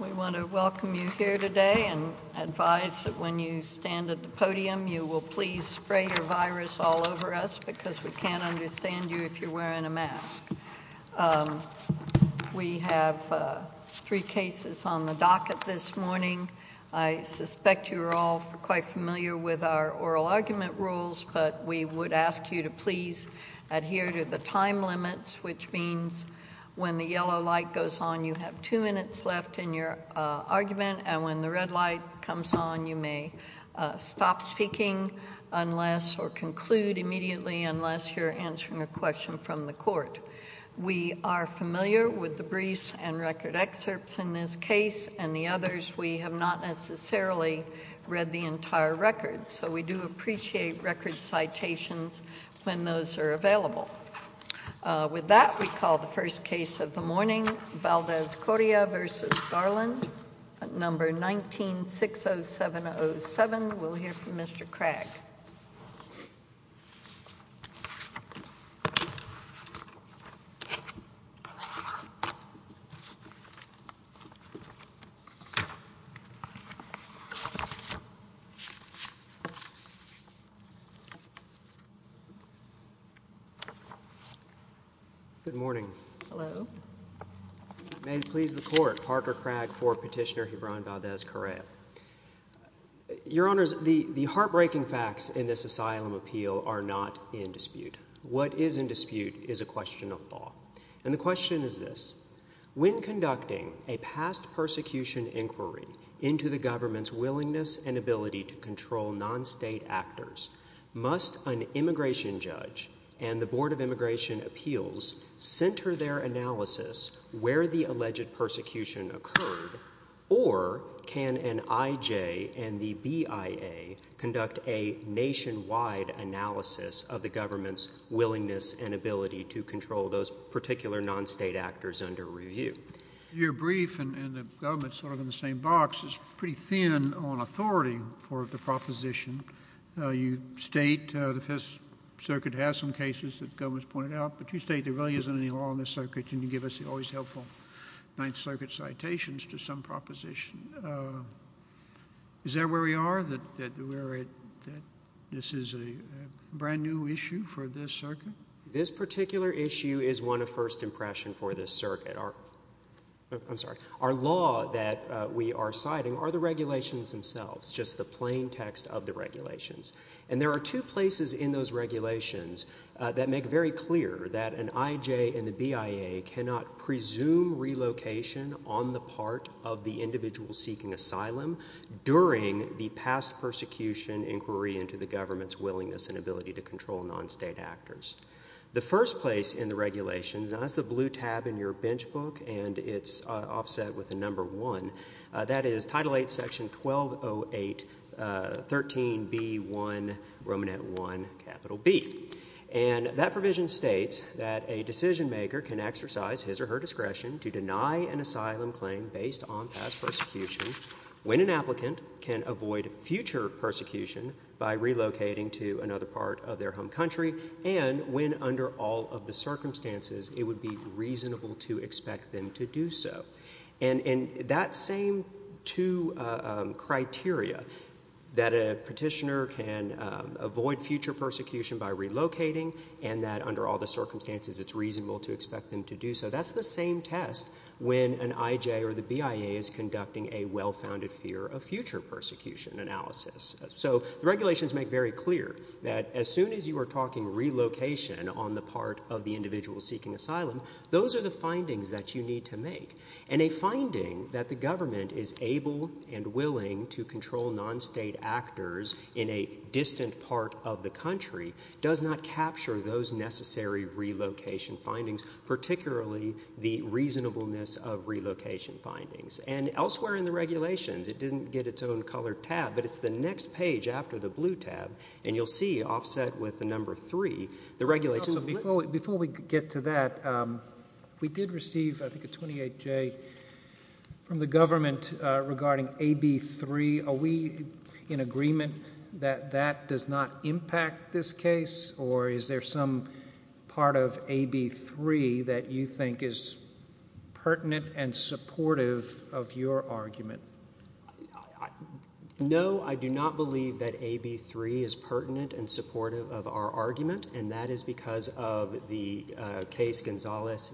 We want to welcome you here today and advise that when you stand at the podium you will please spray your virus all over us because we can't understand you if you're wearing a mask. We have three cases on the docket this morning. I suspect you're all quite familiar with our oral argument rules, but we would ask you to please adhere to the time limits, which means when the yellow light goes on you have two minutes left in your argument, and when the red light comes on you may stop speaking unless or conclude immediately unless you're answering a question from the court. We are familiar with the briefs and record excerpts in this case and the others. We have not necessarily read the entire record, so we do appreciate record citations when those are available. With that, we call the first case of the morning, Valdez Coria v. Garland, number 1960707. We'll hear from Mr. Craig. Good morning. May it please the Court, Parker Craig for Petitioner Hiran Valdez Coria. Your Honors, the heartbreaking facts in this asylum appeal are not in dispute. What is in dispute is a question of law, and the question is this. When conducting a past persecution inquiry into the government's willingness and ability to control non-state actors, must an immigration judge and the Board of Trustees center their analysis where the alleged persecution occurred, or can an IJ and the BIA conduct a nationwide analysis of the government's willingness and ability to control those particular non-state actors under review? Your brief and the government's sort of in the same box is pretty thin on authority for the proposition. You state the Fifth Circuit has some cases that the government's pointed out, but you state there really isn't any law in the circuit. Can you give us the always helpful Ninth Circuit citations to some proposition? Is that where we are, that this is a brand new issue for this circuit? This particular issue is one of first impression for this circuit. Our, I'm sorry, our law that we are citing are the regulations themselves, just the plain text of the regulations. And there are two places in those regulations that make very clear that an IJ and the BIA cannot presume relocation on the part of the individual seeking asylum during the past persecution inquiry into the government's willingness and ability to control non-state actors. The first place in the regulations, and that's the blue tab in your bench book, and it's offset with the 0813B1, Romanet 1, capital B. And that provision states that a decision-maker can exercise his or her discretion to deny an asylum claim based on past persecution when an applicant can avoid future persecution by relocating to another part of their home country and when under all of the circumstances it would be reasonable to expect them to do so. And that same two criteria, that a petitioner can avoid future persecution by relocating and that under all the circumstances it's reasonable to expect them to do so, that's the same test when an IJ or the BIA is conducting a well-founded fear of future persecution analysis. So the regulations make very clear that as soon as you are talking relocation on the part of the individual seeking asylum, those are the findings that you need to make. And a finding that the government is able and willing to control non-state actors in a distant part of the country does not capture those necessary relocation findings, particularly the reasonableness of relocation findings. And elsewhere in the regulations, it didn't get its own color tab, but it's the next page after the blue tab, and you'll see offset with the number three, the regulations... Before we get to that, we did receive a 28-J from the government regarding AB 3. Are we in agreement that that does not impact this case, or is there some part of AB 3 that you think is pertinent and supportive of your argument? No, I do not believe that AB 3 is pertinent and supportive of our argument, and that is because of the case Gonzales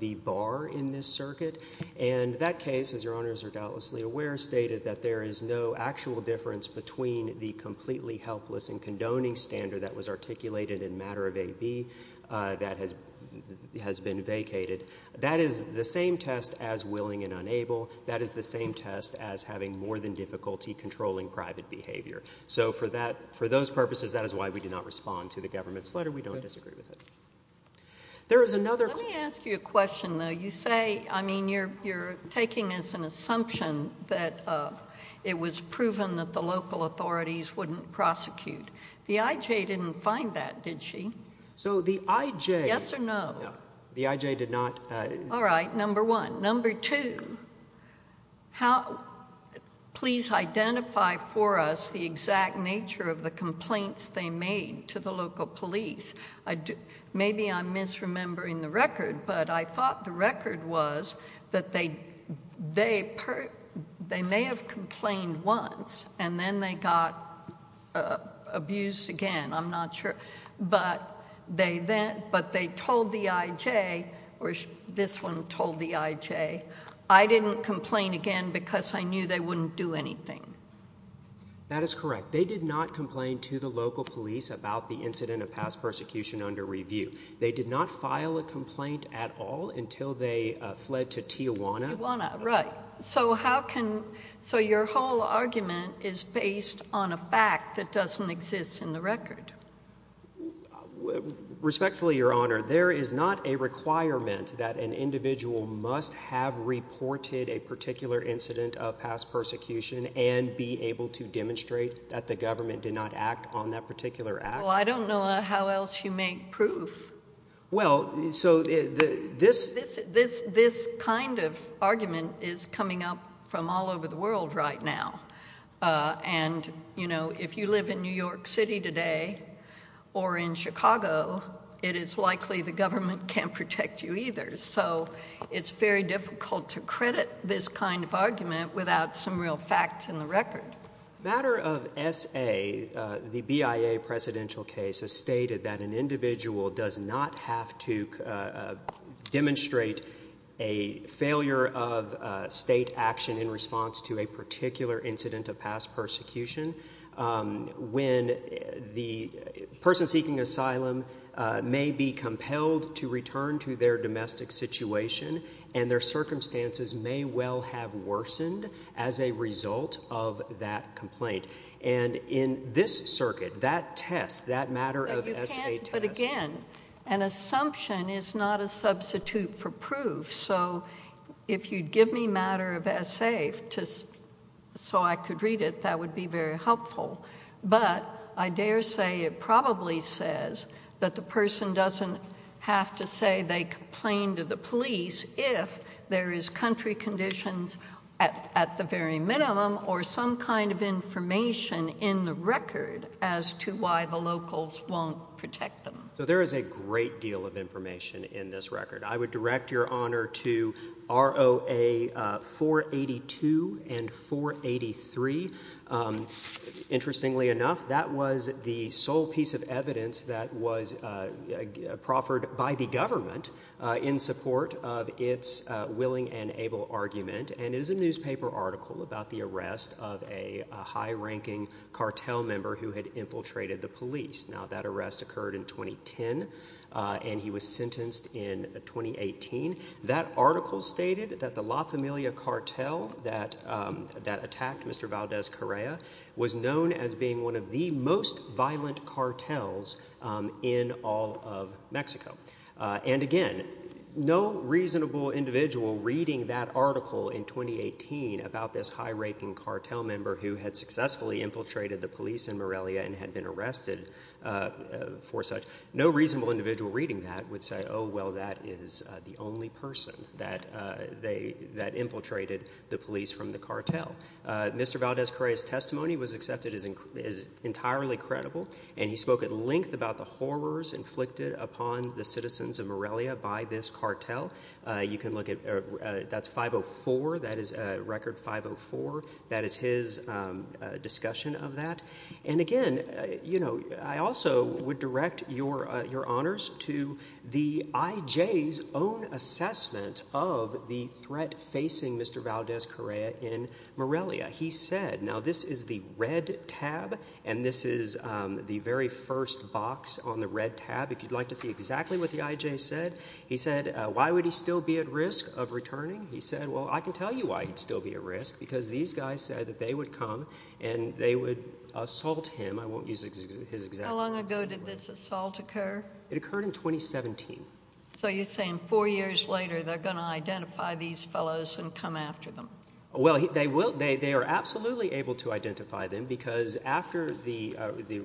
v. Barr in this circuit. And that case, as Your Honors are doubtlessly aware, stated that there is no actual difference between the completely helpless and condoning standard that was articulated in matter of AB that has been vacated. That is the same test as willing and unable. That is the same test as having more than difficulty controlling private behavior. So for that, for those purposes, that is why we do not respond to the government's letter. We don't disagree with it. There is another... Let me ask you a question, though. You say, I mean, you're taking as an assumption that it was proven that the local authorities wouldn't prosecute. The I.J. didn't find that, did she? So the I.J. Yes or no? The I.J. did not... All right, number one. Number two, please identify for us the exact nature of the complaints they made to the local police. Maybe I'm misremembering the record, but I thought the record was that they may have complained once and then they got abused again. I'm not sure. But they told the I.J., or this one told the I.J., I didn't complain again because I knew they wouldn't do anything. That is correct. They did not complain to the local police about the incident of past persecution under review. They did not file a complaint at all until they fled to Tijuana. Tijuana, right. So how can... So your whole argument is based on a fact that doesn't exist in the record. Respectfully, Your Honor, there is not a requirement that an individual must have reported a particular incident of past persecution and be able to demonstrate that the government did not act on that particular act. Well, I don't know how else you make proof. Well, so this... This kind of argument is coming up from all over the world right now. And, you know, if you live in New York City today or in Chicago, it is likely the government can't protect you either. So it's very difficult to credit this kind of argument without some real facts in the record. Matter of S.A., the B.I.A. presidential case has stated that an individual does not have to demonstrate a failure of state action in response to a particular incident of past persecution when the person seeking asylum may be compelled to return to their domestic situation and their circumstances may well have worsened as a result of that complaint. And in this circuit, that test, that matter of S.A. test... But again, an assumption is not a substitute for proof. So if you'd give me matter of S.A. just so I could read it, that would be very helpful. But I dare say it probably says that the person doesn't have to say they complained to the police if there is country conditions at the very minimum or some kind of information in the record as to why the locals won't protect them. So there is a great deal of information in this record. I would direct your honor to ROA 482 and 483. Interestingly enough, that was the sole piece of evidence that was proffered by the government in support of its willing and able argument. And it is a newspaper article about the arrest of a high-ranking cartel member who had infiltrated the police. Now that arrest occurred in 2010 and he was sentenced in 2018. That article stated that the La Familia cartel that attacked Mr. Valdez Correa was known as being one of the most violent cartels in all of Mexico. And again, no reasonable individual reading that article in 2018 about this high-ranking cartel member who had successfully infiltrated the police in Morelia and had been arrested for such, no reasonable individual reading that would say, oh well, that is the only person that infiltrated the police from the cartel. Mr. Valdez Correa's testimony was accepted as entirely credible and he spoke at length about the horrors inflicted upon the citizens of Morelia by this cartel. You can look at, that's 504, that is record 504, that is his discussion of that. And again, you know, I also would direct your honors to the IJ's own assessment of the threat facing Mr. Valdez Correa in Morelia. He said, now this is the red tab and this is the very first box on the red tab. If you'd like to see exactly what the IJ said, he said, why would he still be at risk of returning? He said, well I can tell you why he'd still be at risk, because these IJ's said that they would come and they would assault him. I won't use his example. How long ago did this assault occur? It occurred in 2017. So you're saying four years later they're going to identify these fellows and come after them? Well, they will, they are absolutely able to identify them because after the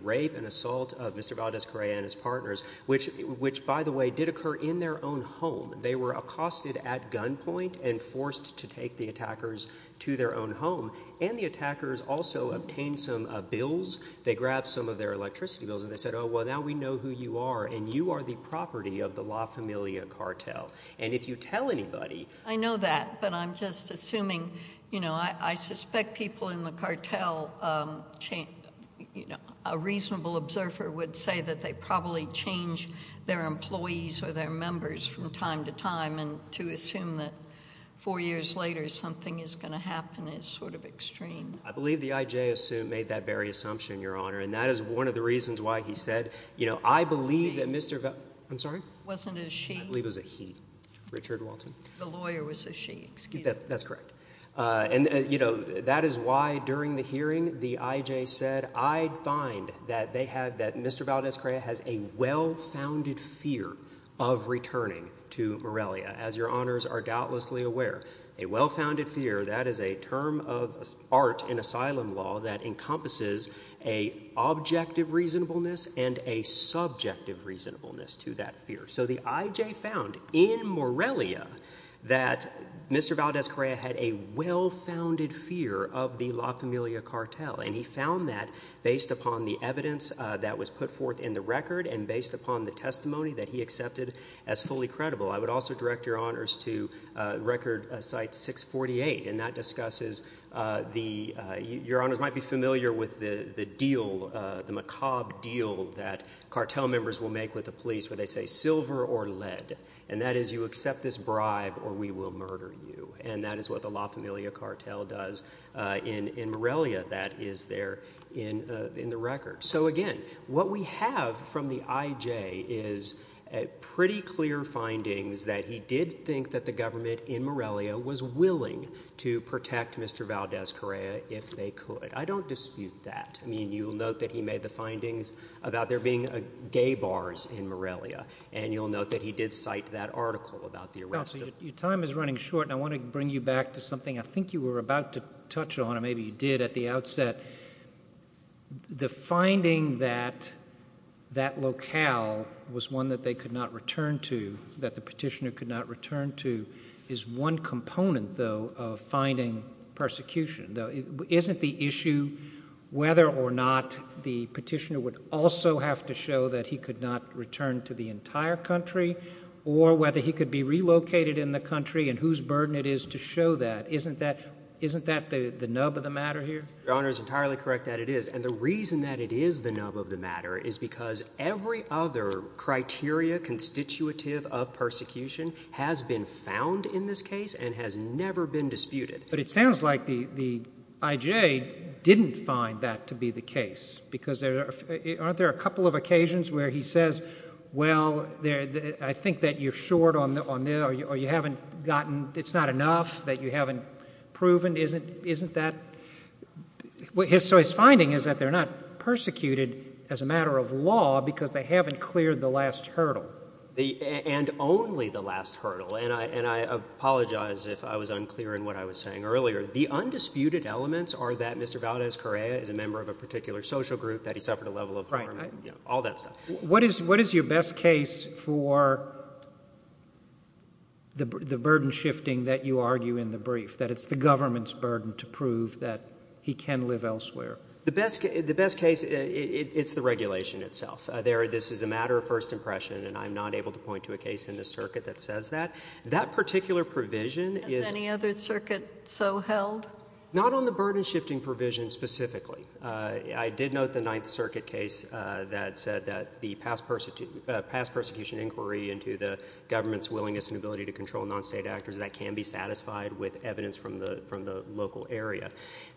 rape and assault of Mr. Valdez Correa and his partners, which by the way did occur in their own home, they were accosted at gunpoint and forced to take the attackers to their own home. And the attackers also obtained some bills. They grabbed some of their electricity bills and they said, oh well now we know who you are and you are the property of the La Familia cartel. And if you tell anybody... I know that, but I'm just assuming, you know, I suspect people in the cartel, you know, a reasonable observer would say that they probably change their employees or their members from time to time and to assume that four years later something is going to happen is sort of extreme. I believe the IJ made that very assumption, Your Honor, and that is one of the reasons why he said, you know, I believe that Mr. Valdez... I'm sorry? Wasn't it a she? I believe it was a he. Richard Walton. The lawyer was a she, excuse me. That's correct. And, you know, that is why during the hearing the IJ said, I find that Mr. Valdez-Correa has a well-founded fear of returning to Morelia. As Your Honors are doubtlessly aware, a well-founded fear, that is a term of art in asylum law that encompasses a objective reasonableness and a subjective reasonableness to that fear. So the IJ found in Morelia that Mr. Valdez-Correa had a well-founded fear of the La Familia cartel and he found that based upon the evidence that was put forth in the record and based upon the testimony that he accepted as fully credible. I would also direct Your Honors to record site 648 and that discusses the... Your Honors might be familiar with the deal, the macabre deal that cartel members will make with the police where they say silver or lead and that is you accept this bribe or we will murder you. And that is what the La Familia cartel does in Morelia that is there in the record. So again, what we have from the IJ is pretty clear findings that he did think that the government in Morelia was willing to protect Mr. Valdez-Correa if they could. I don't dispute that. You will note that he made the findings about there being gay bars in Morelia and you will note that he did cite that article about the arrest. Your time is running short and I want to bring you back to something I think you were about to touch on or maybe you did at the outset. The finding that that locale was one that they could not return to, that the petitioner could not return to is one component of finding persecution. Isn't the issue whether or not the petitioner would also have to show that he could not return to the entire country or whether he could be relocated in the country and whose burden it is to show that? Isn't that the nub of the matter here? Your Honor is entirely correct that it is. And the reason that it is the nub of persecution has been found in this case and has never been disputed. But it sounds like the IJ didn't find that to be the case because aren't there a couple of occasions where he says, well, I think that you're short on this or you haven't gotten, it's not enough, that you haven't proven, isn't that? So his finding is that they're not persecuted as a matter of law because they are not. And I apologize if I was unclear in what I was saying earlier. The undisputed elements are that Mr. Valdez Correa is a member of a particular social group, that he suffered a level of harm, all that stuff. What is your best case for the burden shifting that you argue in the brief, that it's the government's burden to prove that he can live elsewhere? The best case, it's the regulation itself. This is a matter of first impression and I'm not able to point to a circuit that says that. That particular provision... Has any other circuit so held? Not on the burden shifting provision specifically. I did note the Ninth Circuit case that said that the past persecution inquiry into the government's willingness and ability to control non-state actors, that can be satisfied with evidence from the local area.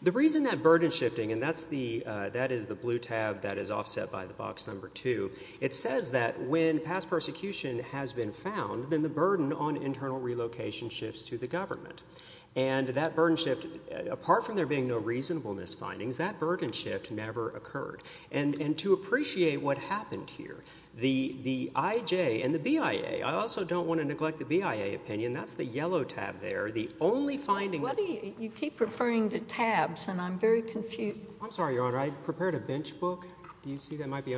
The reason that burden shifting, and that is the blue tab that is offset by the box number two, it says that when past persecution has been found, then the burden on internal relocation shifts to the government. And that burden shift, apart from there being no reasonableness findings, that burden shift never occurred. And to appreciate what happened here, the IJ and the BIA, I also don't want to neglect the BIA opinion, that's the yellow tab there, the only finding... You keep referring to tabs and I'm very confused. I'm sorry, Your Honor, I prepared a bench book. Do you see that might be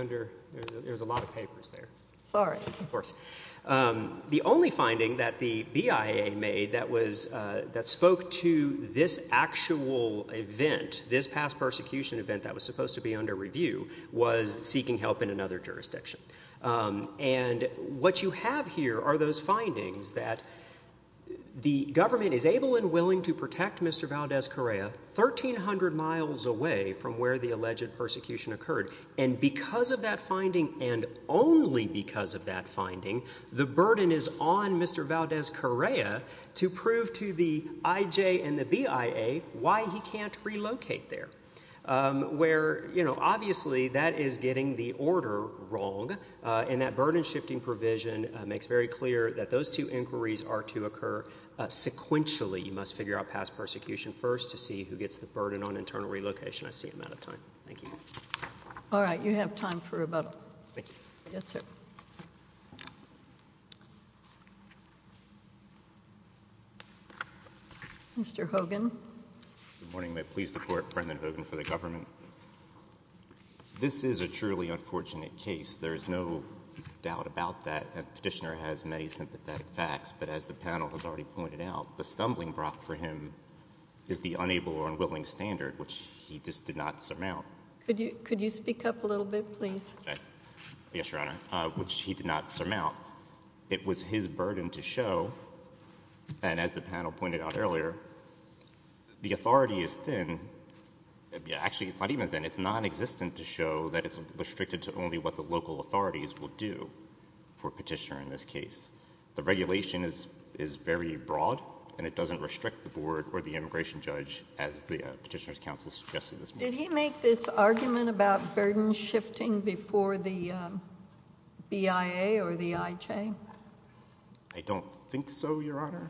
there's a lot of papers there. Sorry. Of course. The only finding that the BIA made that spoke to this actual event, this past persecution event that was supposed to be under review, was seeking help in another jurisdiction. And what you have here are those findings that the government is able and willing to protect Mr. Valdez Correa 1,300 miles away from where the alleged persecution occurred. And because of that finding, and only because of that finding, the burden is on Mr. Valdez Correa to prove to the IJ and the BIA why he can't relocate there. Where, you know, obviously that is getting the order wrong, and that burden shifting provision makes very clear that those two inquiries are to occur sequentially. You must figure out past Thank you. All right, you have time for rebuttal. Thank you. Yes, sir. Mr. Hogan. Good morning. May it please the Court, Brennan Hogan for the government. This is a truly unfortunate case. There is no doubt about that. The petitioner has many sympathetic facts, but as the panel has already pointed out, the stumbling block for him is the unable or Could you speak up a little bit, please? Yes, Your Honor, which he did not surmount. It was his burden to show, and as the panel pointed out earlier, the authority is thin. Actually, it's not even thin. It's nonexistent to show that it's restricted to only what the local authorities will do for a petitioner in this case. The regulation is very broad, and it doesn't restrict the board or the immigration judge, as the Petitioner's argument about burden shifting before the BIA or the IJ. I don't think so, Your Honor.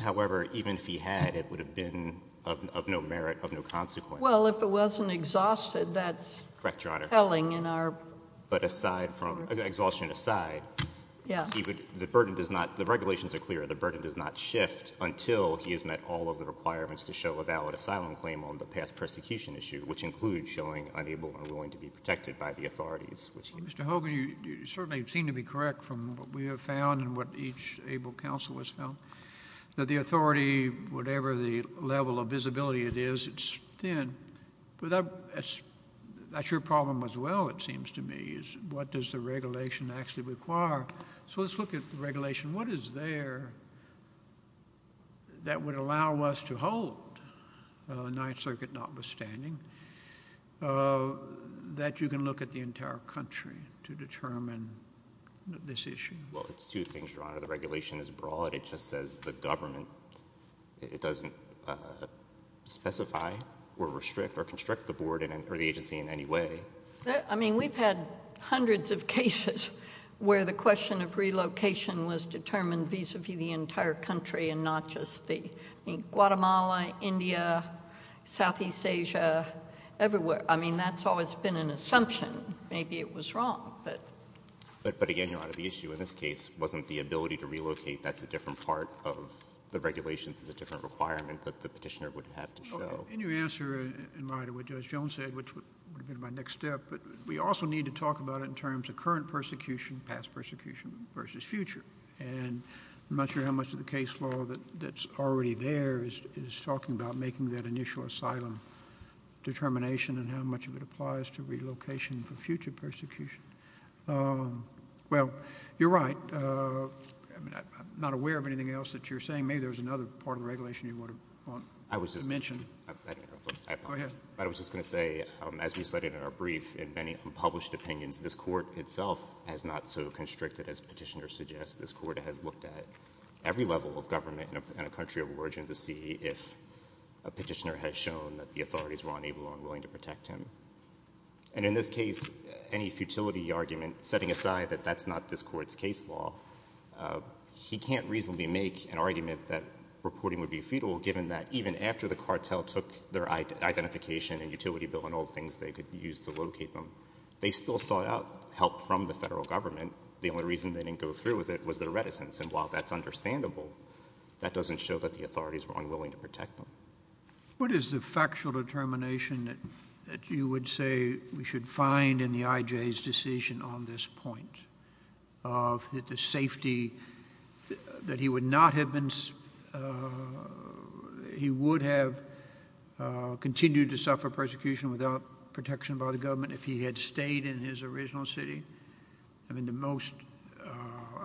However, even if he had, it would have been of no merit, of no consequence. Well, if it wasn't exhausted, that's telling in our But aside from exhaustion aside, the regulations are clear. The burden does not shift until he has met all of the requirements to show a valid asylum claim on the past persecution issue, which includes showing unable or willing to be protected by the authorities. Mr. Hogan, you certainly seem to be correct from what we have found and what each able counsel has found, that the authority, whatever the level of visibility it is, it's thin. But that's your problem as well, it seems to me, is what does the regulation actually require? So let's look at the regulation. What is there that would allow us to hold, the Ninth Circuit notwithstanding, that you can look at the entire country to determine this issue? Well, it's two things, Your Honor. The regulation is broad. It just says the government, it doesn't specify or restrict or constrict the board or the agency in any way. I mean, we've had hundreds of cases where the and not just the, I mean, Guatemala, India, Southeast Asia, everywhere. I mean, that's always been an assumption. Maybe it was wrong. But again, Your Honor, the issue in this case wasn't the ability to relocate. That's a different part of the regulations. It's a different requirement that the petitioner would have to show. In your answer in light of what Judge Jones said, which would have been my next step, but we also need to talk about it in terms of current persecution, past persecution versus future. And I'm not sure how much of the case law that's already there is talking about making that initial asylum determination and how much of it applies to relocation for future persecution. Well, you're right. I mean, I'm not aware of anything else that you're saying. Maybe there's another part of the regulation you want to mention. I was just going to say, as we studied in our brief, in many unpublished opinions, this Court itself has not so constricted, as Petitioner suggests. This Court has looked at every level of government in a country of origin to see if a petitioner has shown that the authorities were unable or unwilling to protect him. And in this case, any futility argument, setting aside that that's not this Court's case law, he can't reasonably make an argument that reporting would be futile, given that even after the cartel took their identification and utility bill and all the things they could use to locate them, they still sought out help from the federal government. The only reason they didn't go through with it was their reticence. And while that's understandable, that doesn't show that the authorities were unwilling to protect them. What is the factual determination that you would say we should find in the IJ's decision on this without protection by the government, if he had stayed in his original city? I mean, the most,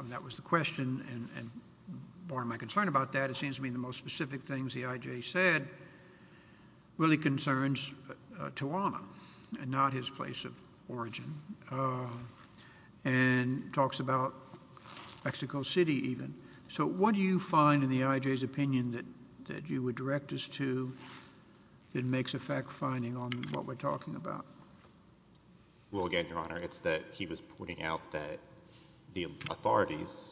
that was the question, and part of my concern about that, it seems to me, the most specific things the IJ said really concerns Tijuana and not his place of origin, and talks about Mexico City, even. So what do you find in the IJ's opinion that you would direct us to that makes a fact-finding on what we're talking about? Well, again, Your Honor, it's that he was pointing out that the authorities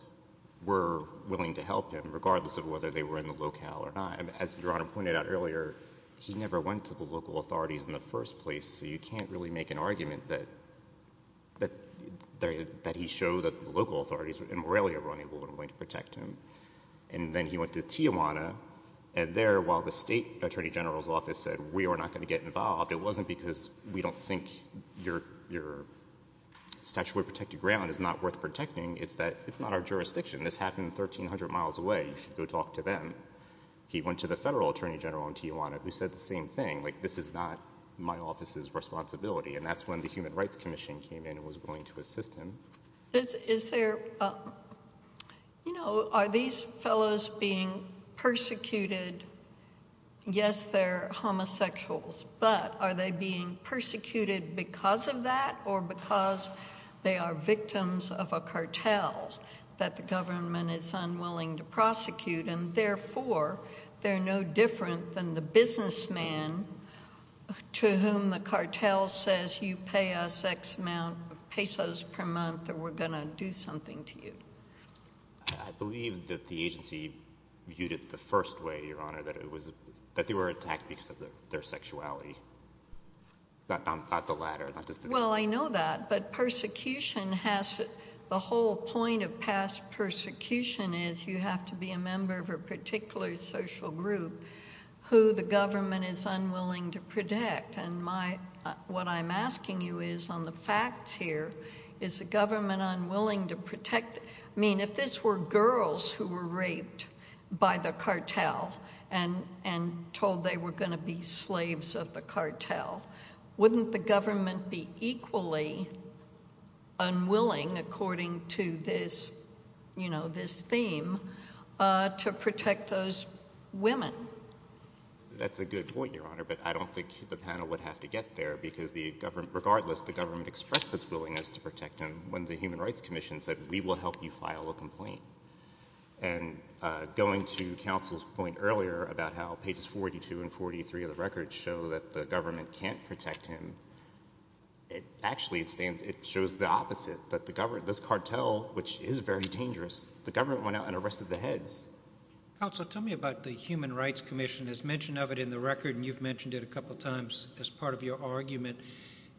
were willing to help him, regardless of whether they were in the locale or not. As Your Honor pointed out earlier, he never went to the local authorities in the first place, so you can't really make an argument that he showed that the local authorities and Morelia were unable and unwilling to protect him. And then he went to Tijuana, and there, while the state attorney general's office said, we are not going to get involved, it wasn't because we don't think your statutory protected ground is not worth protecting, it's that it's not our jurisdiction. This happened 1,300 miles away. You should go talk to them. He went to the federal attorney general in Tijuana, who said the same thing, like, this is not my office's responsibility, and that's when the Human Rights Commission came in and was willing to assist him. Is there, you know, are these fellows being persecuted? Yes, they're homosexuals, but are they being persecuted because of that, or because they are victims of a cartel that the government is unwilling to prosecute, and therefore they're no different than the businessman to whom the cartel says, you pay us X amount of pesos per month, or we're going to do something to you? I believe that the agency viewed it the first way, Your Honor, that it was that they were attacked because of their sexuality, not the latter. Well, I know that, but persecution has, the whole point of past persecution is you have to be a member of a particular social group who the government is unwilling to protect. I mean, if this were girls who were raped by the cartel and told they were going to be slaves of the cartel, wouldn't the government be equally unwilling, according to this, you know, this theme, to protect those women? That's a good point, Your Honor, but I don't think the panel would have to get there, because the government, regardless, the government expressed its willingness to protect him when the Human Rights Commission said, we will help you file a complaint, and going to counsel's point earlier about how pages 42 and 43 of the record show that the government can't protect him, it actually, it stands, it shows the opposite, that the government, this cartel, which is very dangerous, the government went out and arrested the heads. Counsel, tell me about the Human Rights Commission. It's mentioned of it in the record, and you've mentioned it a couple times as part of your argument.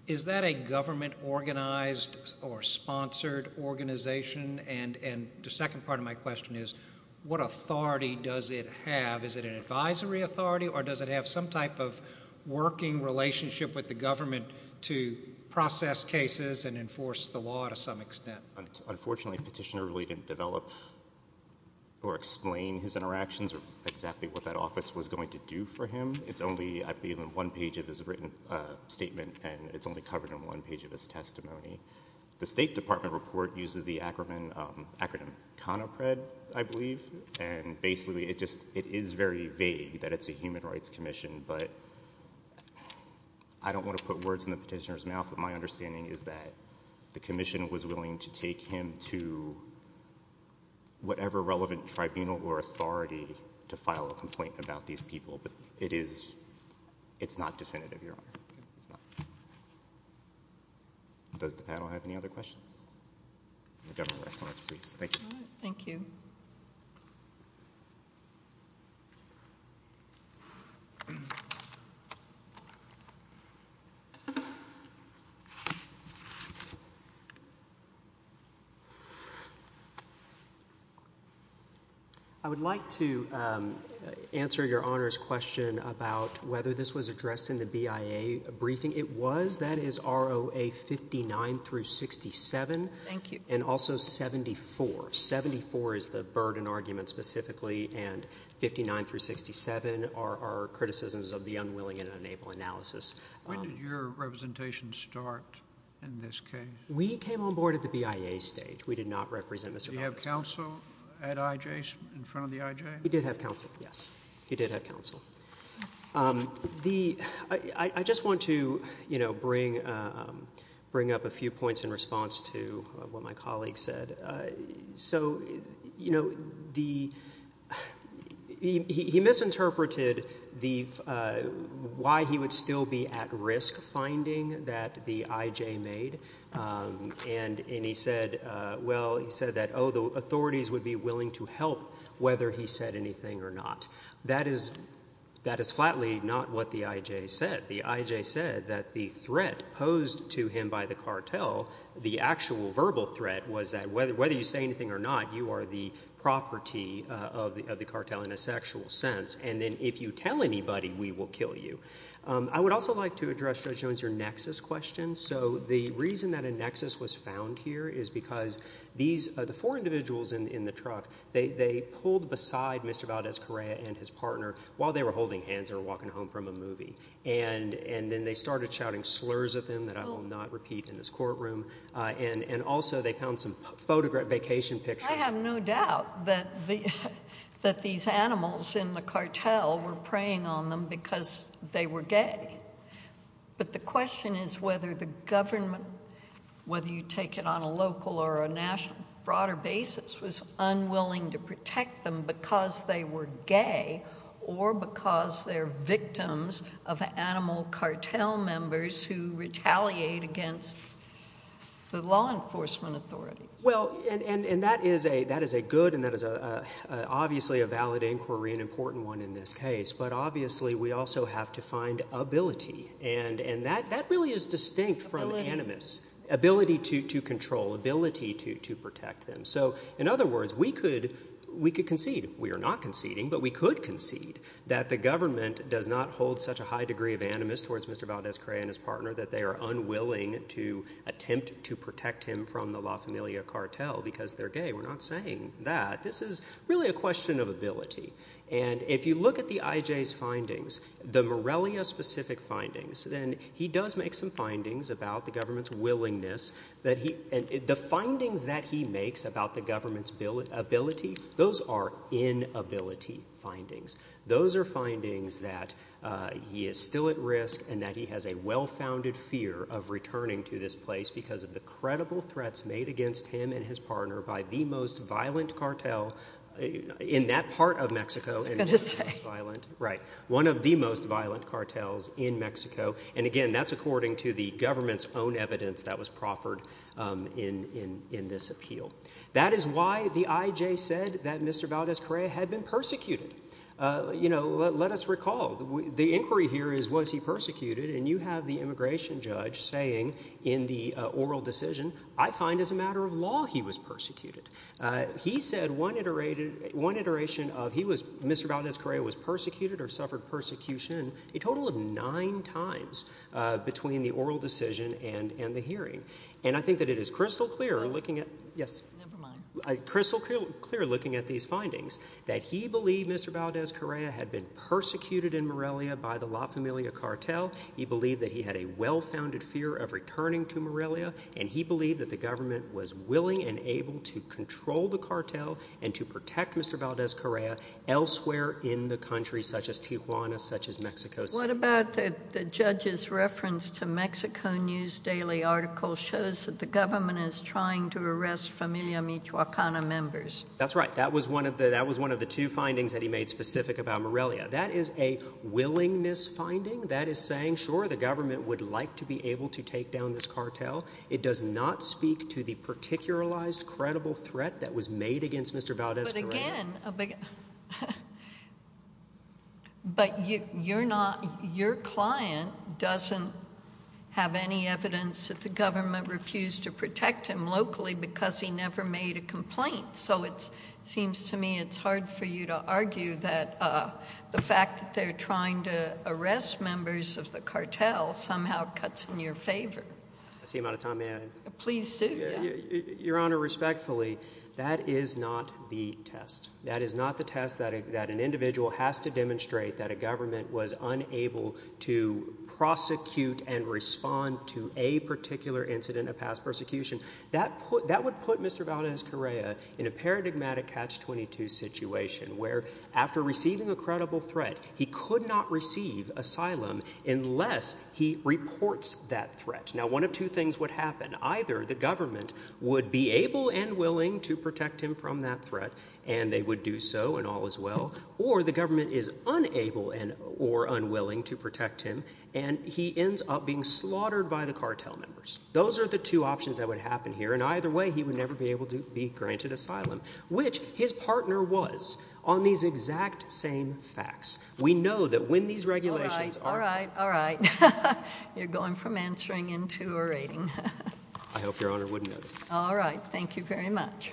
Is that a government-organized or sponsored organization? And the second part of my question is, what authority does it have? Is it an advisory authority, or does it have some type of working relationship with the government to process cases and enforce the law to some extent? Unfortunately, Petitioner really didn't develop or explain his what that office was going to do for him. It's only, I believe, in one page of his written statement, and it's only covered in one page of his testimony. The State Department report uses the acronym CONAPRED, I believe, and basically, it just, it is very vague that it's a Human Rights Commission, but I don't want to put words in the petitioner's mouth, but my understanding is that the commission was willing to take him to whatever relevant tribunal or authority to file a complaint about these people, but it is, it's not definitive, Your Honor. Does the panel have any other questions? The Governor rests on his briefs. Thank you. Thank you. Okay. I would like to answer Your Honor's question about whether this was addressed in the BIA briefing. It was. That is ROA 59 through 67. Thank you. And also 74. 74 is the burden argument, specifically, and 59 through 67 are our criticisms of the unwilling and unable analysis. When did your representation start in this case? We came on board at the BIA stage. We did not represent Mr. Baumgartner. Did he have counsel at IJ, in front of the IJ? He did have counsel, yes. He did have counsel. The, I just want to, you know, bring up a few points in response to what my colleague said. So, you know, the, he misinterpreted the, why he would still be at risk finding that the IJ made, and he said, well, he said that, oh, the authorities would be willing to help whether he said anything or not. That is, that is flatly not what the IJ said. The IJ said that the threat posed to him by the cartel, the actual verbal threat, was that whether you say anything or not, you are the property of the cartel in a sexual sense, and then if you tell anybody, we will kill you. I would also like to address, Judge Jones, your nexus question. So, the reason that a nexus was found here is because these, the four individuals in the truck, they pulled beside Mr. Valdez-Correa and his partner while they were holding hands, walking home from a movie, and then they started shouting slurs at them that I will not repeat in this courtroom, and also they found some vacation pictures. I have no doubt that these animals in the cartel were preying on them because they were gay, but the question is whether the government, whether you take it on a local or a national, broader basis, was unwilling to protect them because they were gay or because they're victims of animal cartel members who retaliate against the law enforcement authority. Well, and that is a good, and that is obviously a valid inquiry, an important one in this case, but obviously we also have to find ability, and that really is distinct from animus, ability to control, ability to protect them. So, in other words, we could concede. We are not conceding, but we could concede that the government does not hold such a high degree of animus towards Mr. Valdez-Correa and his partner that they are unwilling to attempt to protect him from the La Familia cartel because they're gay. We're not saying that. This is really a question of ability, and if you look at the IJ's findings, the Morelia-specific findings, then he does make some findings about the government's willingness that he, and the inability findings. Those are findings that he is still at risk and that he has a well-founded fear of returning to this place because of the credible threats made against him and his partner by the most violent cartel in that part of Mexico. One of the most violent cartels in Mexico, and again, that's according to the government's own evidence that was proffered in this appeal. That is why the Mr. Valdez-Correa had been persecuted. Let us recall, the inquiry here is was he persecuted, and you have the immigration judge saying in the oral decision, I find as a matter of law he was persecuted. He said one iteration of Mr. Valdez-Correa was persecuted or suffered persecution a total of nine times between the oral decision and the hearing, and I think that it is crystal clear looking at these findings that he believed Mr. Valdez-Correa had been persecuted in Morelia by the La Familia cartel. He believed that he had a well-founded fear of returning to Morelia, and he believed that the government was willing and able to control the cartel and to protect Mr. Valdez-Correa elsewhere in the country such as Tijuana, such as Mexico City. What about the judge's reference to Mexico News Daily article shows that the government is trying to arrest Familia Michoacana members? That's right. That was one of the two findings that he made specific about Morelia. That is a willingness finding. That is saying, sure, the government would like to be able to take down this cartel. It does not speak to the particularized, credible threat that was The government doesn't have any evidence that the government refused to protect him locally because he never made a complaint, so it seems to me it's hard for you to argue that the fact that they're trying to arrest members of the cartel somehow cuts in your favor. That's the amount of time may I add? Please do, yeah. Your Honor, respectfully, that is not the test. That is not the test that an individual has to demonstrate that a government was unable to prosecute and respond to a particular incident of past persecution. That would put Mr. Valdez-Correa in a paradigmatic catch-22 situation where, after receiving a credible threat, he could not receive asylum unless he reports that threat. Now, one of two things would happen. Either the government would be able and willing to or the government is unable and or unwilling to protect him and he ends up being slaughtered by the cartel members. Those are the two options that would happen here, and either way he would never be able to be granted asylum, which his partner was on these exact same facts. We know that when these regulations... All right, all right, all right. You're going from answering into a rating. I hope Your Honor wouldn't notice. All right, thank you very much.